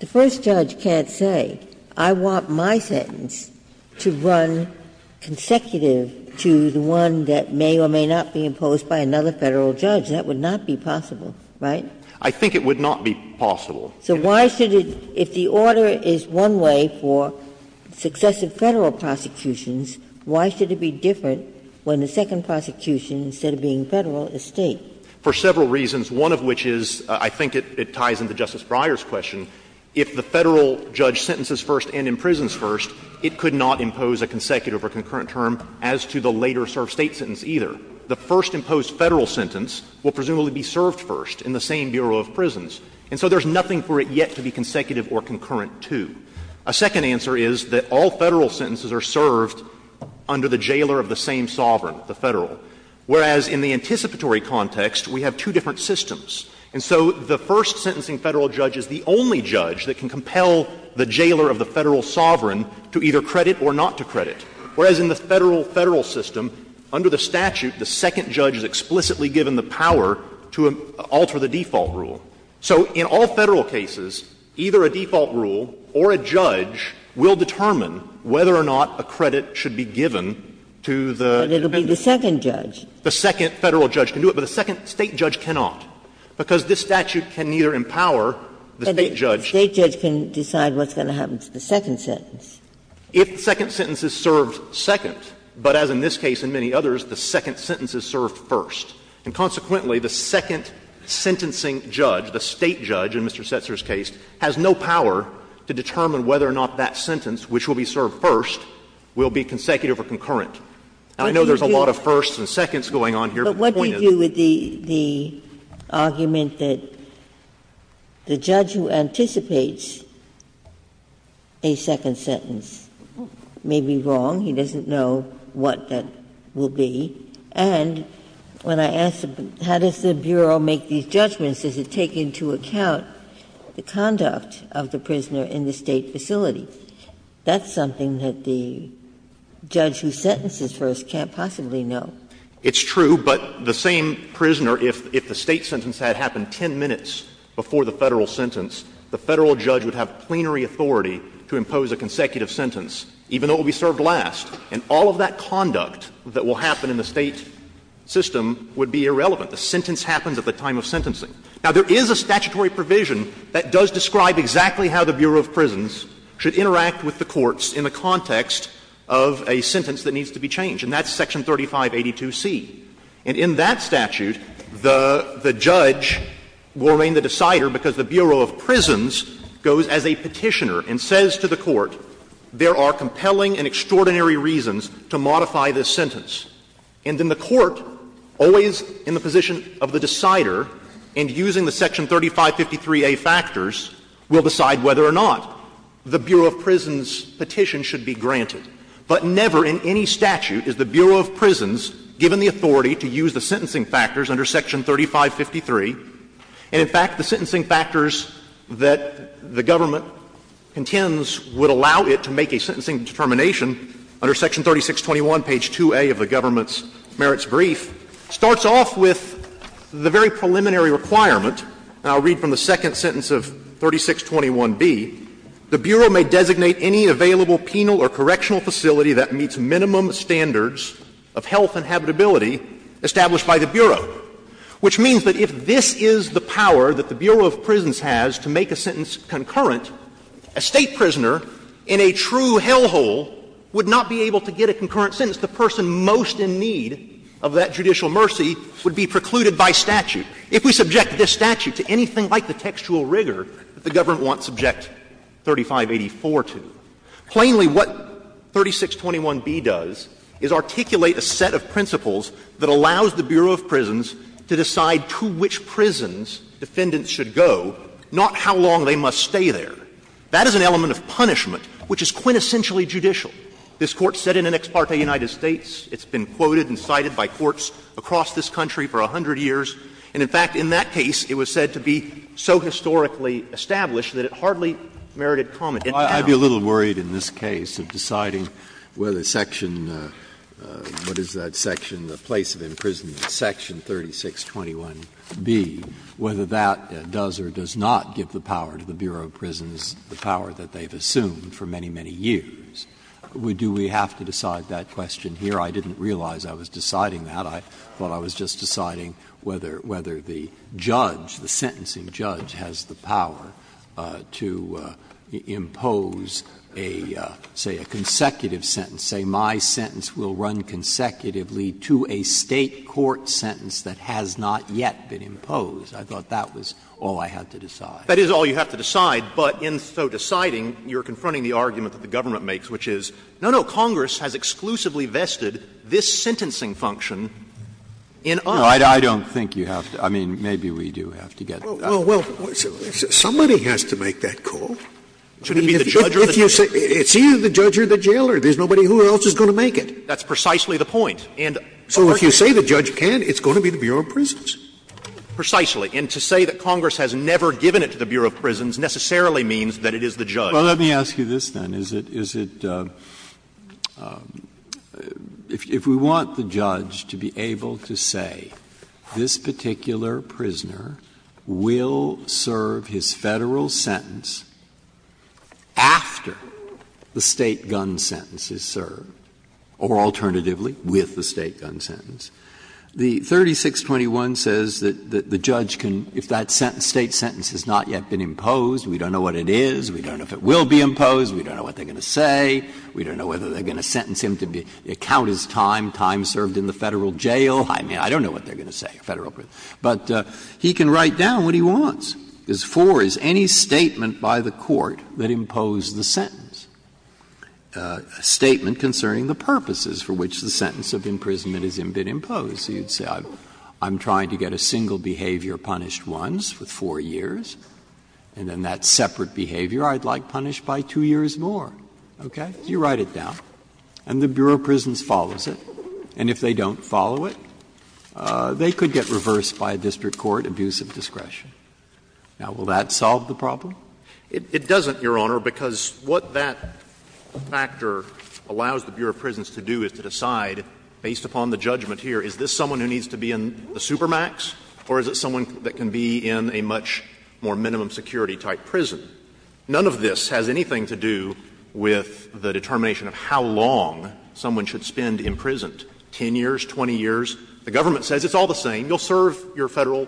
the first judge can't say, I want my sentence to run consecutive to the one that may or may not be imposed by another Federal judge. That would not be possible, right? I think it would not be possible. So why should it — if the order is one way for successive Federal prosecutions, why should it be different when the second prosecution, instead of being Federal, is State? For several reasons, one of which is, I think it ties into Justice Breyer's question, if the Federal judge sentences first and imprisons first, it could not impose a consecutive or concurrent term as to the later served State sentence either. The first imposed Federal sentence will presumably be served first in the same bureau of prisons. And so there's nothing for it yet to be consecutive or concurrent to. A second answer is that all Federal sentences are served under the jailer of the same sovereign, the Federal. Whereas, in the anticipatory context, we have two different systems. And so the first sentencing Federal judge is the only judge that can compel the jailer of the Federal sovereign to either credit or not to credit, whereas in the Federal system, under the statute, the second judge is explicitly given the power to alter the default rule. So in all Federal cases, either a default rule or a judge will determine whether or not a credit should be given to the defendant. Ginsburg. But it will be the second judge. The second Federal judge can do it, but the second State judge cannot, because this statute can neither empower the State judge. But the State judge can decide what's going to happen to the second sentence. If the second sentence is served second, but as in this case and many others, the second sentence is served first. And consequently, the second sentencing judge, the State judge in Mr. Setzer's case, has no power to determine whether or not that sentence, which will be served first, will be consecutive or concurrent. I know there's a lot of firsts and seconds going on here, but the point is. Ginsburg. But what do you do with the argument that the judge who anticipates a second sentence may be wrong, he doesn't know what that will be, and when I ask, how does the Bureau make these judgments, does it take into account the conduct of the prisoner in the State facility? That's something that the judge who sentences first can't possibly know. It's true, but the same prisoner, if the State sentence had happened 10 minutes before the Federal sentence, the Federal judge would have plenary authority to impose a consecutive sentence, even though it would be served last. And all of that conduct that will happen in the State system would be irrelevant. The sentence happens at the time of sentencing. Now, there is a statutory provision that does describe exactly how the Bureau of Prisons should interact with the courts in the context of a sentence that needs to be changed, and that's Section 3582C. And in that statute, the judge will remain the decider because the Bureau of Prisons goes as a petitioner and says to the court, there are compelling and extraordinary reasons to modify this sentence. And then the court, always in the position of the decider and using the Section 3553A factors, will decide whether or not the Bureau of Prisons petition should be granted. But never in any statute is the Bureau of Prisons given the authority to use the sentencing factors under Section 3553. And, in fact, the sentencing factors that the government contends would allow it to make a sentencing determination under Section 3621, page 2A of the government's requirement, and I'll read from the second sentence of 3621B, the Bureau may designate any available penal or correctional facility that meets minimum standards of health and habitability established by the Bureau, which means that if this is the power that the Bureau of Prisons has to make a sentence concurrent, a State prisoner in a true hellhole would not be able to get a concurrent sentence. The person most in need of that judicial mercy would be precluded by statute. If we subject this statute to anything like the textual rigor that the government wants to subject 3584 to, plainly what 3621B does is articulate a set of principles that allows the Bureau of Prisons to decide to which prisons defendants should go, not how long they must stay there. That is an element of punishment which is quintessentially judicial. This Court said in an ex parte United States, it's been quoted and cited by courts across this country for 100 years, and, in fact, in that case, it was said to be so historically established that it hardly merited comment. And now the Court is saying, well, I'd be a little worried in this case of deciding whether Section — what is that section, the place of imprisonment, Section 3621B, whether that does or does not give the power to the Bureau of Prisons, the power that they've assumed for many, many years. Do we have to decide that question here? I didn't realize I was deciding that. I thought I was just deciding whether the judge, the sentencing judge, has the power to impose a, say, a consecutive sentence, say, my sentence will run consecutively to a State court sentence that has not yet been imposed. I thought that was all I had to decide. That is all you have to decide, but in so deciding, you're confronting the argument that the government makes, which is, no, no, Congress has exclusively vested this in us. Breyer. No, I don't think you have to. I mean, maybe we do have to get that. Scalia. Well, somebody has to make that call. If you say it's either the judge or the jailer, there's nobody else who is going to make it. That's precisely the point. And so if you say the judge can, it's going to be the Bureau of Prisons. Precisely. And to say that Congress has never given it to the Bureau of Prisons necessarily means that it is the judge. Well, let me ask you this, then. Is it, is it, if we want the judge to be able to say this particular prisoner will serve his Federal sentence after the State gun sentence is served, or alternatively with the State gun sentence, the 3621 says that the judge can, if that State sentence has not yet been imposed, we don't know what it is, we don't know if it will be imposed, we don't know what they are going to say, we don't know whether they are going to sentence him to be, count his time, time served in the Federal jail, I mean, I don't know what they are going to say, Federal prison. But he can write down what he wants. Because 4 is any statement by the court that imposed the sentence, a statement concerning the purposes for which the sentence of imprisonment has been imposed. So you would say I'm trying to get a single behavior punished once for 4 years, and then that separate behavior I'd like punished by 2 years more, okay? You write it down, and the Bureau of Prisons follows it. And if they don't follow it, they could get reversed by a district court, abuse of discretion. Now, will that solve the problem? It doesn't, Your Honor, because what that factor allows the Bureau of Prisons to do is to decide, based upon the judgment here, is this someone who needs to be in the supermax, or is it someone that can be in a much more minimum security-type prison? None of this has anything to do with the determination of how long someone should spend imprisoned, 10 years, 20 years. The government says it's all the same, you'll serve your Federal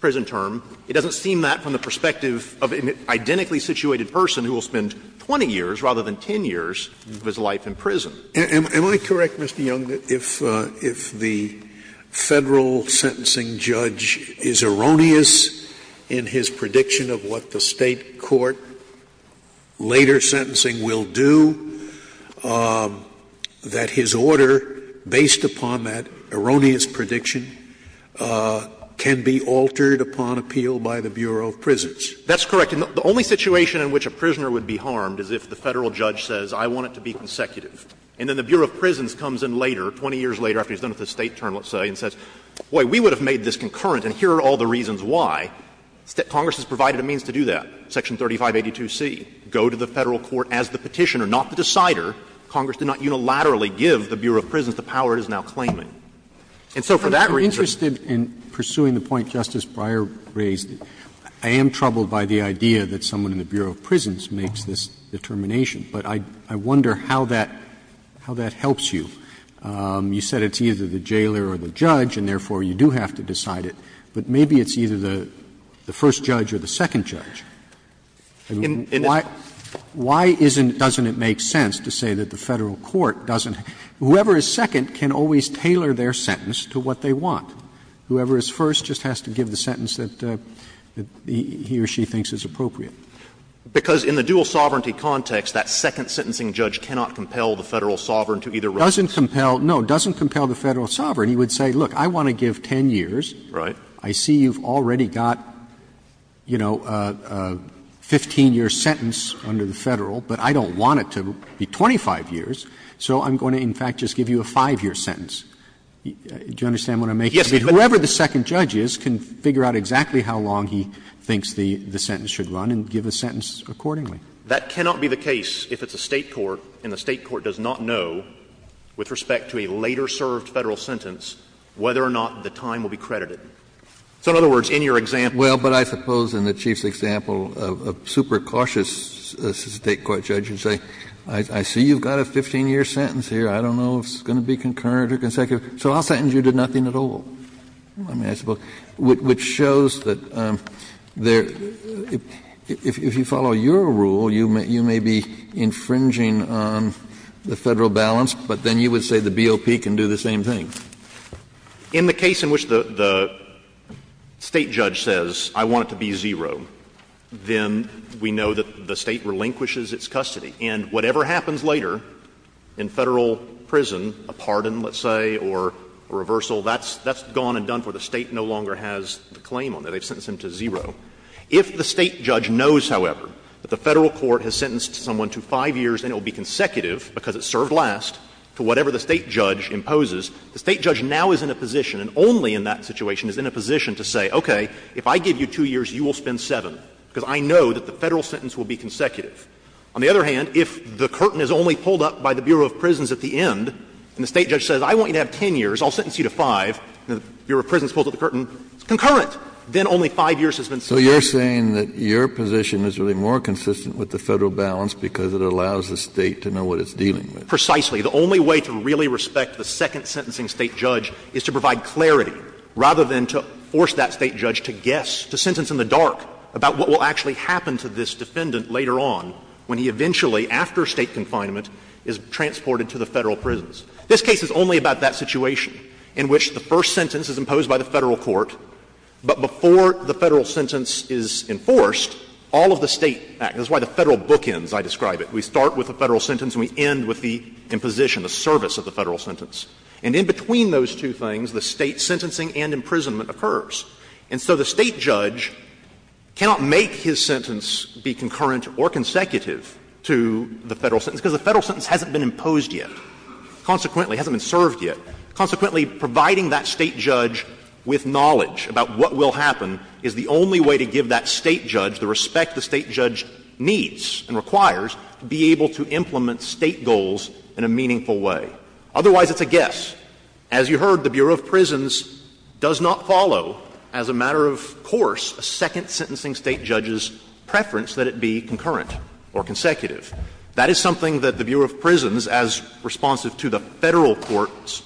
prison term. It doesn't seem that from the perspective of an identically situated person who will spend 20 years rather than 10 years of his life in prison. Am I correct, Mr. Young, that if the Federal sentencing judge is erroneous in his prediction of what the State court later sentencing will do, that his order, based upon that erroneous prediction, can be altered upon appeal by the Bureau of Prisons? That's correct. The only situation in which a prisoner would be harmed is if the Federal judge says I want it to be consecutive. And then the Bureau of Prisons comes in later, 20 years later after he's done with the State term, let's say, and says, boy, we would have made this concurrent and here are all the reasons why. Congress has provided a means to do that, section 3582C, go to the Federal court as the Petitioner, not the decider. Congress did not unilaterally give the Bureau of Prisons the power it is now claiming. And so for that reason they're not going to do that. Roberts. Roberts. I'm interested in pursuing the point Justice Breyer raised. I am troubled by the idea that someone in the Bureau of Prisons makes this determination. But I wonder how that helps you. You said it's either the jailer or the judge, and therefore you do have to decide it. But maybe it's either the first judge or the second judge. Why doesn't it make sense to say that the Federal court doesn't – whoever is second can always tailor their sentence to what they want. Whoever is first just has to give the sentence that he or she thinks is appropriate. Because in the dual sovereignty context, that second sentencing judge cannot compel the Federal sovereign to either run. Roberts. No, doesn't compel the Federal sovereign. He would say, look, I want to give 10 years. Right. I see you've already got, you know, a 15-year sentence under the Federal, but I don't want it to be 25 years, so I'm going to in fact just give you a 5-year sentence. Do you understand what I'm making? Yes. Whoever the second judge is can figure out exactly how long he thinks the sentence should run and give a sentence accordingly. That cannot be the case if it's a State court and the State court does not know, with respect to a later served Federal sentence, whether or not the time will be credited. So in other words, in your example – Well, but I suppose in the Chief's example, a super cautious State court judge would say, I see you've got a 15-year sentence here. I don't know if it's going to be concurrent or consecutive, so I'll sentence you to nothing at all. Kennedy, I mean, I suppose, which shows that if you follow your rule, you may be infringing on the Federal balance, but then you would say the BOP can do the same thing. In the case in which the State judge says, I want it to be zero, then we know that the State relinquishes its custody. And whatever happens later in Federal prison, a pardon, let's say, or a reversal, that's gone and done for the State no longer has the claim on it. They've sentenced him to zero. If the State judge knows, however, that the Federal court has sentenced someone to 5 years and it will be consecutive because it served last to whatever the State judge imposes, the State judge now is in a position, and only in that situation, is in a position to say, okay, if I give you 2 years, you will spend 7, because I know that the Federal sentence will be consecutive. On the other hand, if the curtain is only pulled up by the Bureau of Prisons at the end, and the State judge says, I want you to have 10 years, I'll sentence you to 5, and the Bureau of Prisons pulls up the curtain, it's concurrent, then only 5 years has been served. Kennedy, so you're saying that your position is really more consistent with the Federal balance because it allows the State to know what it's dealing with? Precisely. The only way to really respect the second sentencing State judge is to provide clarity, rather than to force that State judge to guess, to sentence in the dark about what will actually happen to this defendant later on when he eventually, after State confinement, is transported to the Federal prisons. This case is only about that situation in which the first sentence is imposed by the Federal court, but before the Federal sentence is enforced, all of the State act, that's why the Federal bookends, I describe it. We start with the Federal sentence and we end with the imposition, the service of the Federal sentence. And in between those two things, the State sentencing and imprisonment occurs. And so the State judge cannot make his sentence be concurrent or consecutive to the Federal sentence, because the Federal sentence hasn't been imposed yet, consequently, hasn't been served yet. Consequently, providing that State judge with knowledge about what will happen is the only way to give that State judge the respect the State judge needs and requires to be able to implement State goals in a meaningful way. Otherwise, it's a guess. As you heard, the Bureau of Prisons does not follow as a matter of course a second sentencing State judge's preference that it be concurrent or consecutive. That is something that the Bureau of Prisons, as responsive to the Federal court's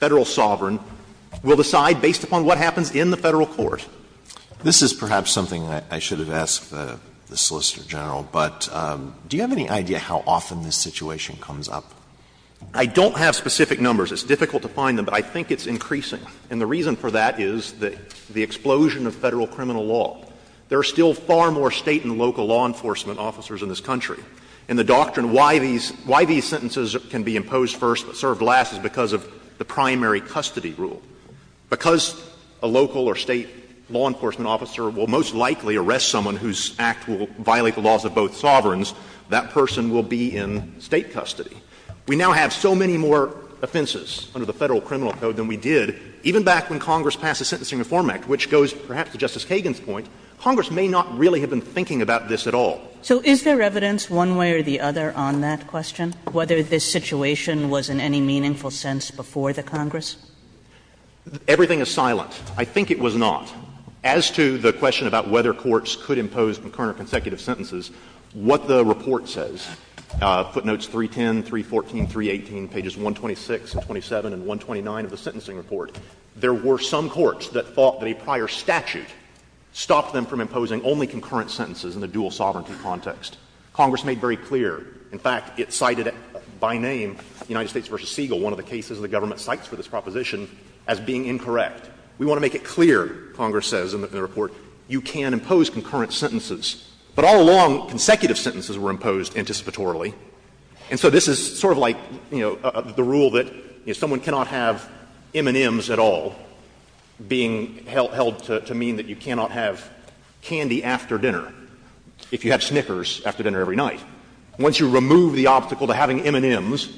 Federal sovereign, will decide based upon what happens in the Federal court. Alitoso, this is perhaps something I should have asked the Solicitor General, but do you have any idea how often this situation comes up? I don't have specific numbers. It's difficult to find them, but I think it's increasing. And the reason for that is the explosion of Federal criminal law. There are still far more State and local law enforcement officers in this country. And the doctrine why these sentences can be imposed first but served last is because of the primary custody rule. Because a local or State law enforcement officer will most likely arrest someone whose act will violate the laws of both sovereigns, that person will be in State custody. We now have so many more offenses under the Federal criminal code than we did even back when Congress passed the Sentencing Reform Act, which goes perhaps to Justice Kagan's point, Congress may not really have been thinking about this at all. So is there evidence one way or the other on that question, whether this situation was in any meaningful sense before the Congress? Everything is silent. I think it was not. As to the question about whether courts could impose concurrent or consecutive sentences, what the report says, footnotes 310, 314, 318, pages 126 and 27 and 129 of the sentencing report, there were some courts that thought that a prior statute stopped them from imposing only concurrent sentences in the dual sovereignty context. Congress made very clear. In fact, it cited by name United States v. Siegel, one of the cases the government cites for this proposition, as being incorrect. We want to make it clear, Congress says in the report, you can impose concurrent sentences. But all along, consecutive sentences were imposed anticipatorily. And so this is sort of like, you know, the rule that someone cannot have M&Ms at all being held to mean that you cannot have candy after dinner if you have Snickers after dinner every night. Once you remove the obstacle to having M&Ms,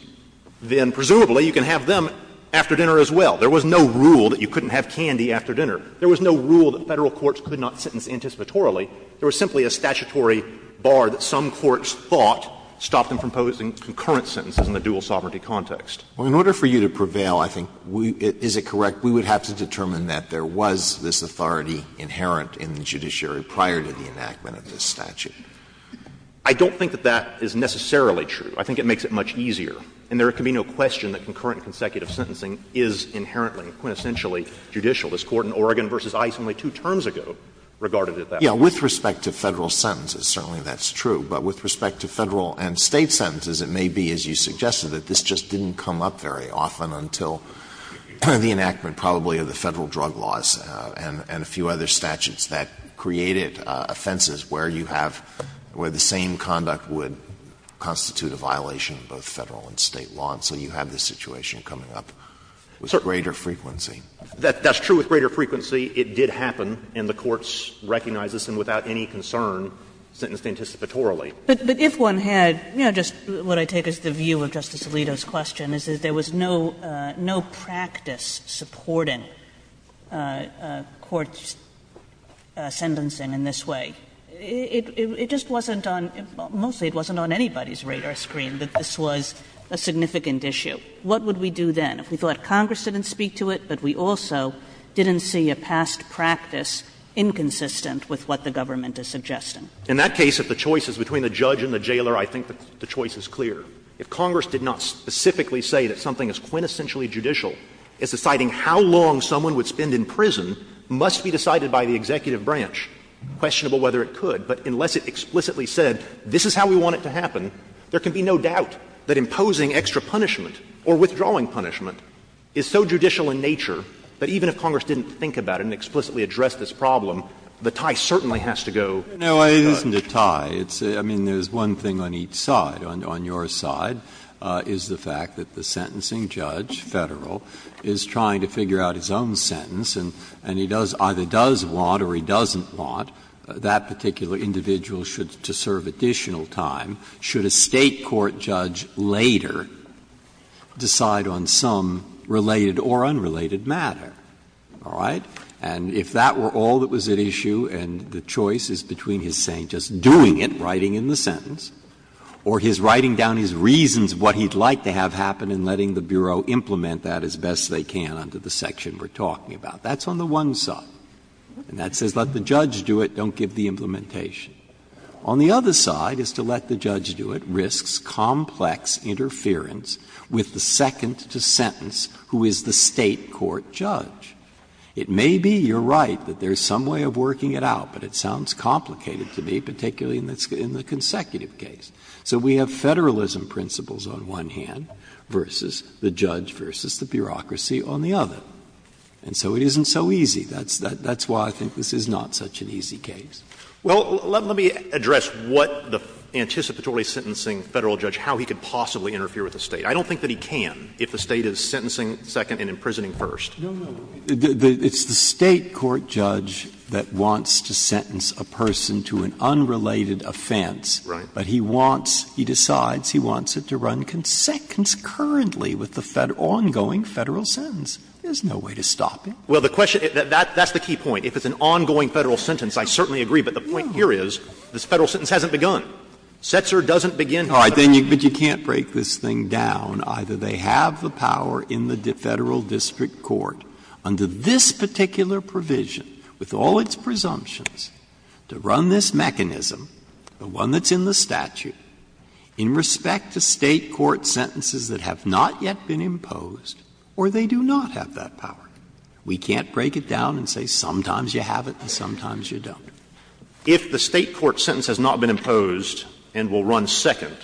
then presumably you can have them after dinner as well. There was no rule that you couldn't have candy after dinner. There was no rule that Federal courts could not sentence anticipatorily. There was simply a statutory bar that some courts thought stopped them from imposing concurrent sentences in the dual sovereignty context. Alitoso, in order for you to prevail, I think, is it correct, we would have to determine that there was this authority inherent in the judiciary prior to the enactment of this statute? I don't think that that is necessarily true. I think it makes it much easier. And there can be no question that concurrent and consecutive sentencing is inherently and quintessentially judicial. This Court in Oregon v. Ice only two terms ago regarded it that way. Alitoso, with respect to Federal sentences, certainly that's true. But with respect to Federal and State sentences, it may be, as you suggested, that this just didn't come up very often until the enactment probably of the Federal drug laws and a few other statutes that created offenses where you have the same conduct that would constitute a violation of both Federal and State law. And so you have this situation coming up with greater frequency. That's true. With greater frequency, it did happen, and the courts recognized this, and without any concern, sentenced it anticipatorily. Kagan. But if one had, you know, just what I take as the view of Justice Alitoso's question is that there was no practice supporting court sentencing in this way. It just wasn't on, mostly it wasn't on anybody's radar screen that this was a significant issue. What would we do then? If we thought Congress didn't speak to it, but we also didn't see a past practice inconsistent with what the government is suggesting? In that case, if the choice is between the judge and the jailer, I think the choice is clear. If Congress did not specifically say that something as quintessentially judicial as deciding how long someone would spend in prison must be decided by the executive branch, questionable whether it could, but unless it explicitly said this is how we want it to happen, there can be no doubt that imposing extra punishment or withdrawing punishment is so judicial in nature that even if Congress didn't think about it and explicitly addressed this problem, the tie certainly has to go. Breyer. No, it isn't a tie. I mean, there's one thing on each side. On your side is the fact that the sentencing judge, Federal, is trying to figure out his own sentence, and he does, either does want or he doesn't want that particular individual to serve additional time. Should a State court judge later decide on some related or unrelated matter? All right? And if that were all that was at issue and the choice is between his saying just doing it, writing in the sentence, or his writing down his reasons what he'd like to have happen and letting the Bureau implement that as best they can under the section we're talking about, that's on the one side. And that says let the judge do it, don't give the implementation. On the other side is to let the judge do it risks complex interference with the second to sentence who is the State court judge. It may be, you're right, that there's some way of working it out, but it sounds complicated to me, particularly in the consecutive case. So we have Federalism principles on one hand versus the judge versus the bureaucracy on the other. And so it isn't so easy. That's why I think this is not such an easy case. Well, let me address what the anticipatorily sentencing Federal judge, how he could possibly interfere with the State. I don't think that he can if the State is sentencing second and imprisoning first. No, no. It's the State court judge that wants to sentence a person to an unrelated offense. Right. But he wants, he decides he wants it to run concurrently with the ongoing Federal sentence. There's no way to stop him. Well, the question, that's the key point. If it's an ongoing Federal sentence, I certainly agree, but the point here is this Federal sentence hasn't begun. Setzer doesn't begin Federal. All right, but you can't break this thing down. Either they have the power in the Federal district court under this particular provision, with all its presumptions, to run this mechanism, the one that's in the statute, in respect to State court sentences that have not yet been imposed, or they do not have that power. We can't break it down and say sometimes you have it and sometimes you don't. If the State court sentence has not been imposed and will run second,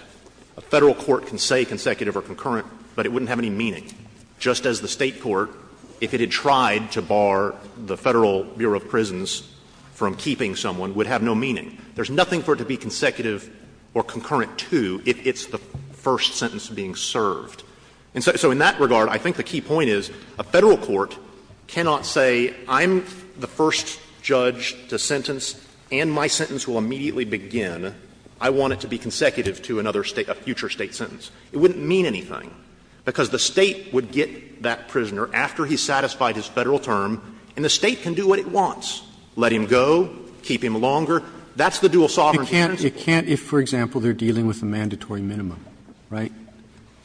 a Federal court can say consecutive or concurrent, but it wouldn't have any meaning. Just as the State court, if it had tried to bar the Federal Bureau of Prisons from keeping someone, would have no meaning. There's nothing for it to be consecutive or concurrent to if it's the first sentence being served. And so in that regard, I think the key point is a Federal court cannot say I'm the first judge to sentence and my sentence will immediately begin, I want it to be consecutive to another State, a future State sentence. It wouldn't mean anything, because the State would get that prisoner after he's satisfied his Federal term, and the State can do what it wants, let him go, keep him longer. That's the dual sovereignty principle. Roberts, if, for example, they're dealing with a mandatory minimum, right,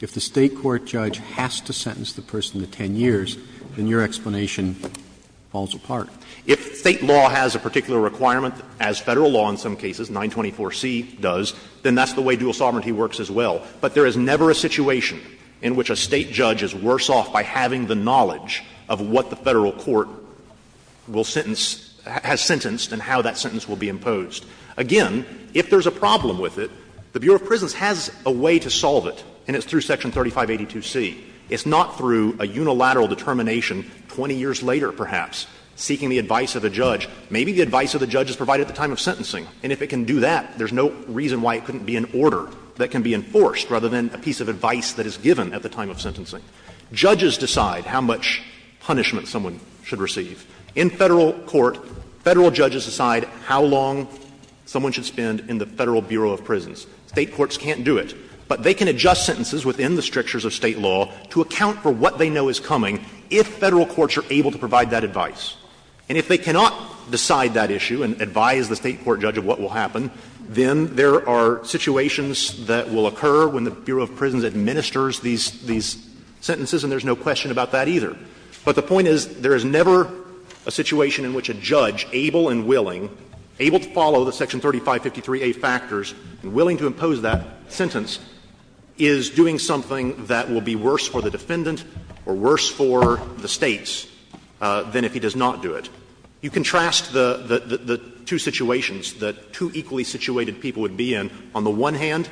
if the State court judge has to sentence the person to 10 years, then your explanation falls apart. If State law has a particular requirement, as Federal law in some cases, 924C does, then that's the way dual sovereignty works as well. But there is never a situation in which a State judge is worse off by having the knowledge of what the Federal court will sentence — has sentenced and how that sentence will be imposed. Again, if there's a problem with it, the Bureau of Prisons has a way to solve it, and it's through Section 3582C. It's not through a unilateral determination 20 years later, perhaps, seeking the advice of a judge. Maybe the advice of the judge is provided at the time of sentencing, and if it can do that, there's no reason why it couldn't be an order that can be enforced rather than a piece of advice that is given at the time of sentencing. Judges decide how much punishment someone should receive. In Federal court, Federal judges decide how long someone should spend in the Federal Bureau of Prisons. State courts can't do it. But they can adjust sentences within the strictures of State law to account for what they know is coming if Federal courts are able to provide that advice. And if they cannot decide that issue and advise the State court judge of what will happen, then there are situations that will occur when the Bureau of Prisons administers these — these sentences, and there's no question about that either. But the point is there is never a situation in which a judge, able and willing, able to follow the Section 3553a factors and willing to impose that sentence, is doing something that will be worse for the defendant or worse for the States than if he does not do it. You contrast the two situations that two equally situated people would be in. On the one hand,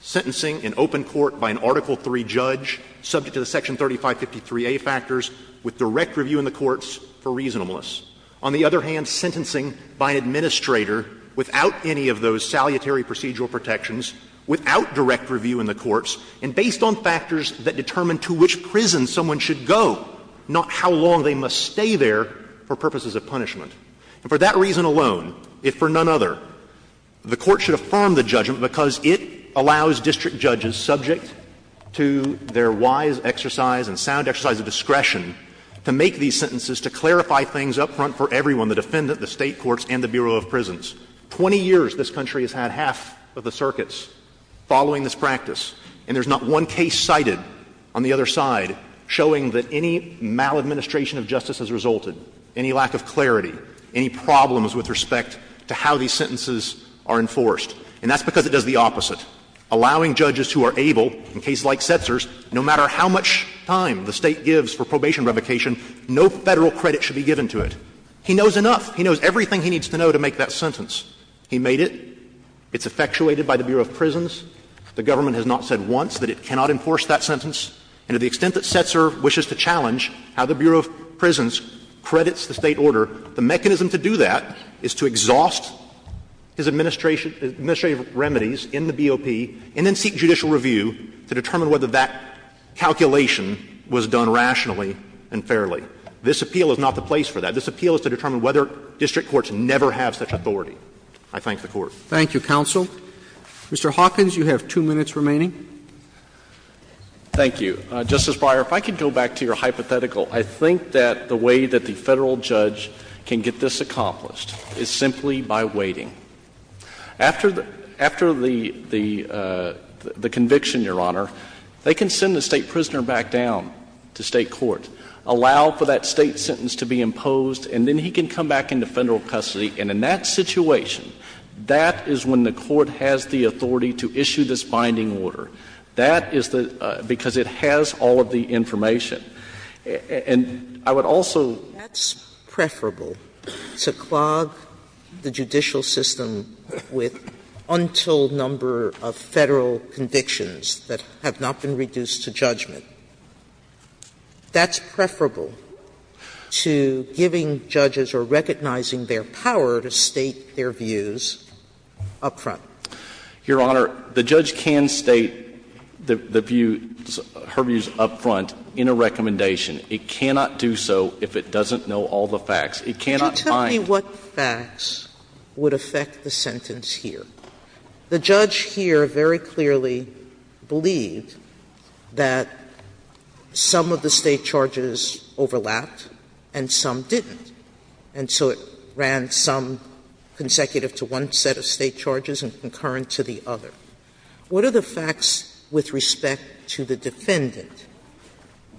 sentencing in open court by an Article III judge subject to the Section 3553a factors with direct review in the courts for reasonableness. On the other hand, sentencing by an administrator without any of those salutary procedural protections, without direct review in the courts, and based on factors that determine to which prison someone should go, not how long they must stay there for purposes of punishment. And for that reason alone, if for none other, the Court should affirm the judgment because it allows district judges subject to their wise exercise and sound exercise of discretion to make these sentences, to clarify things up front for everyone, the defendant, the State courts, and the Bureau of Prisons. Twenty years this country has had half of the circuits following this practice, and there's not one case cited on the other side showing that any maladministration of justice has resulted, any lack of clarity, any problems with respect to how these sentences are enforced. And that's because it does the opposite, allowing judges who are able, in cases like Setzer's, no matter how much time the State gives for probation revocation, no Federal credit should be given to it. He knows enough. He knows everything he needs to know to make that sentence. He made it. It's effectuated by the Bureau of Prisons. The government has not said once that it cannot enforce that sentence. And to the extent that Setzer wishes to challenge how the Bureau of Prisons credits the State order, the mechanism to do that is to exhaust his administration of remedies in the BOP and then seek judicial review to determine whether that calculation was done rationally and fairly. This appeal is not the place for that. This appeal is to determine whether district courts never have such authority. I thank the Court. Thank you, counsel. Mr. Hawkins, you have two minutes remaining. Thank you. Justice Breyer, if I could go back to your hypothetical. I think that the way that the Federal judge can get this accomplished is simply by waiting. After the conviction, Your Honor, they can send the State prisoner back down to State court, allow for that State sentence to be imposed, and then he can come back into Federal custody. And in that situation, that is when the Court has the authority to issue this binding order. That is the — because it has all of the information. And I would also — Sotomayor, that's preferable, to clog the judicial system with untold number of Federal convictions that have not been reduced to judgment. That's preferable to giving judges or recognizing their power to state their views up front. Your Honor, the judge can state the views, her views up front in a recommendation. It cannot do so if it doesn't know all the facts. It cannot bind. Sotomayor, what facts would affect the sentence here? The judge here very clearly believed that some of the State charges overlapped and some didn't, and so it ran some consecutive to one set of State charges and concurrent to the other. What are the facts with respect to the defendant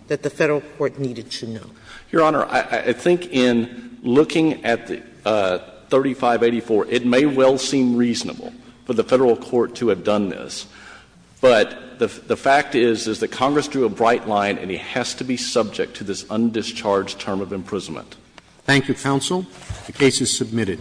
that the Federal court needed to know? Your Honor, I think in looking at 3584, it may well seem reasonable for the Federal court to have done this, but the fact is, is that Congress drew a bright line and he has to be subject to this undischarged term of imprisonment. Thank you, counsel. The case is submitted.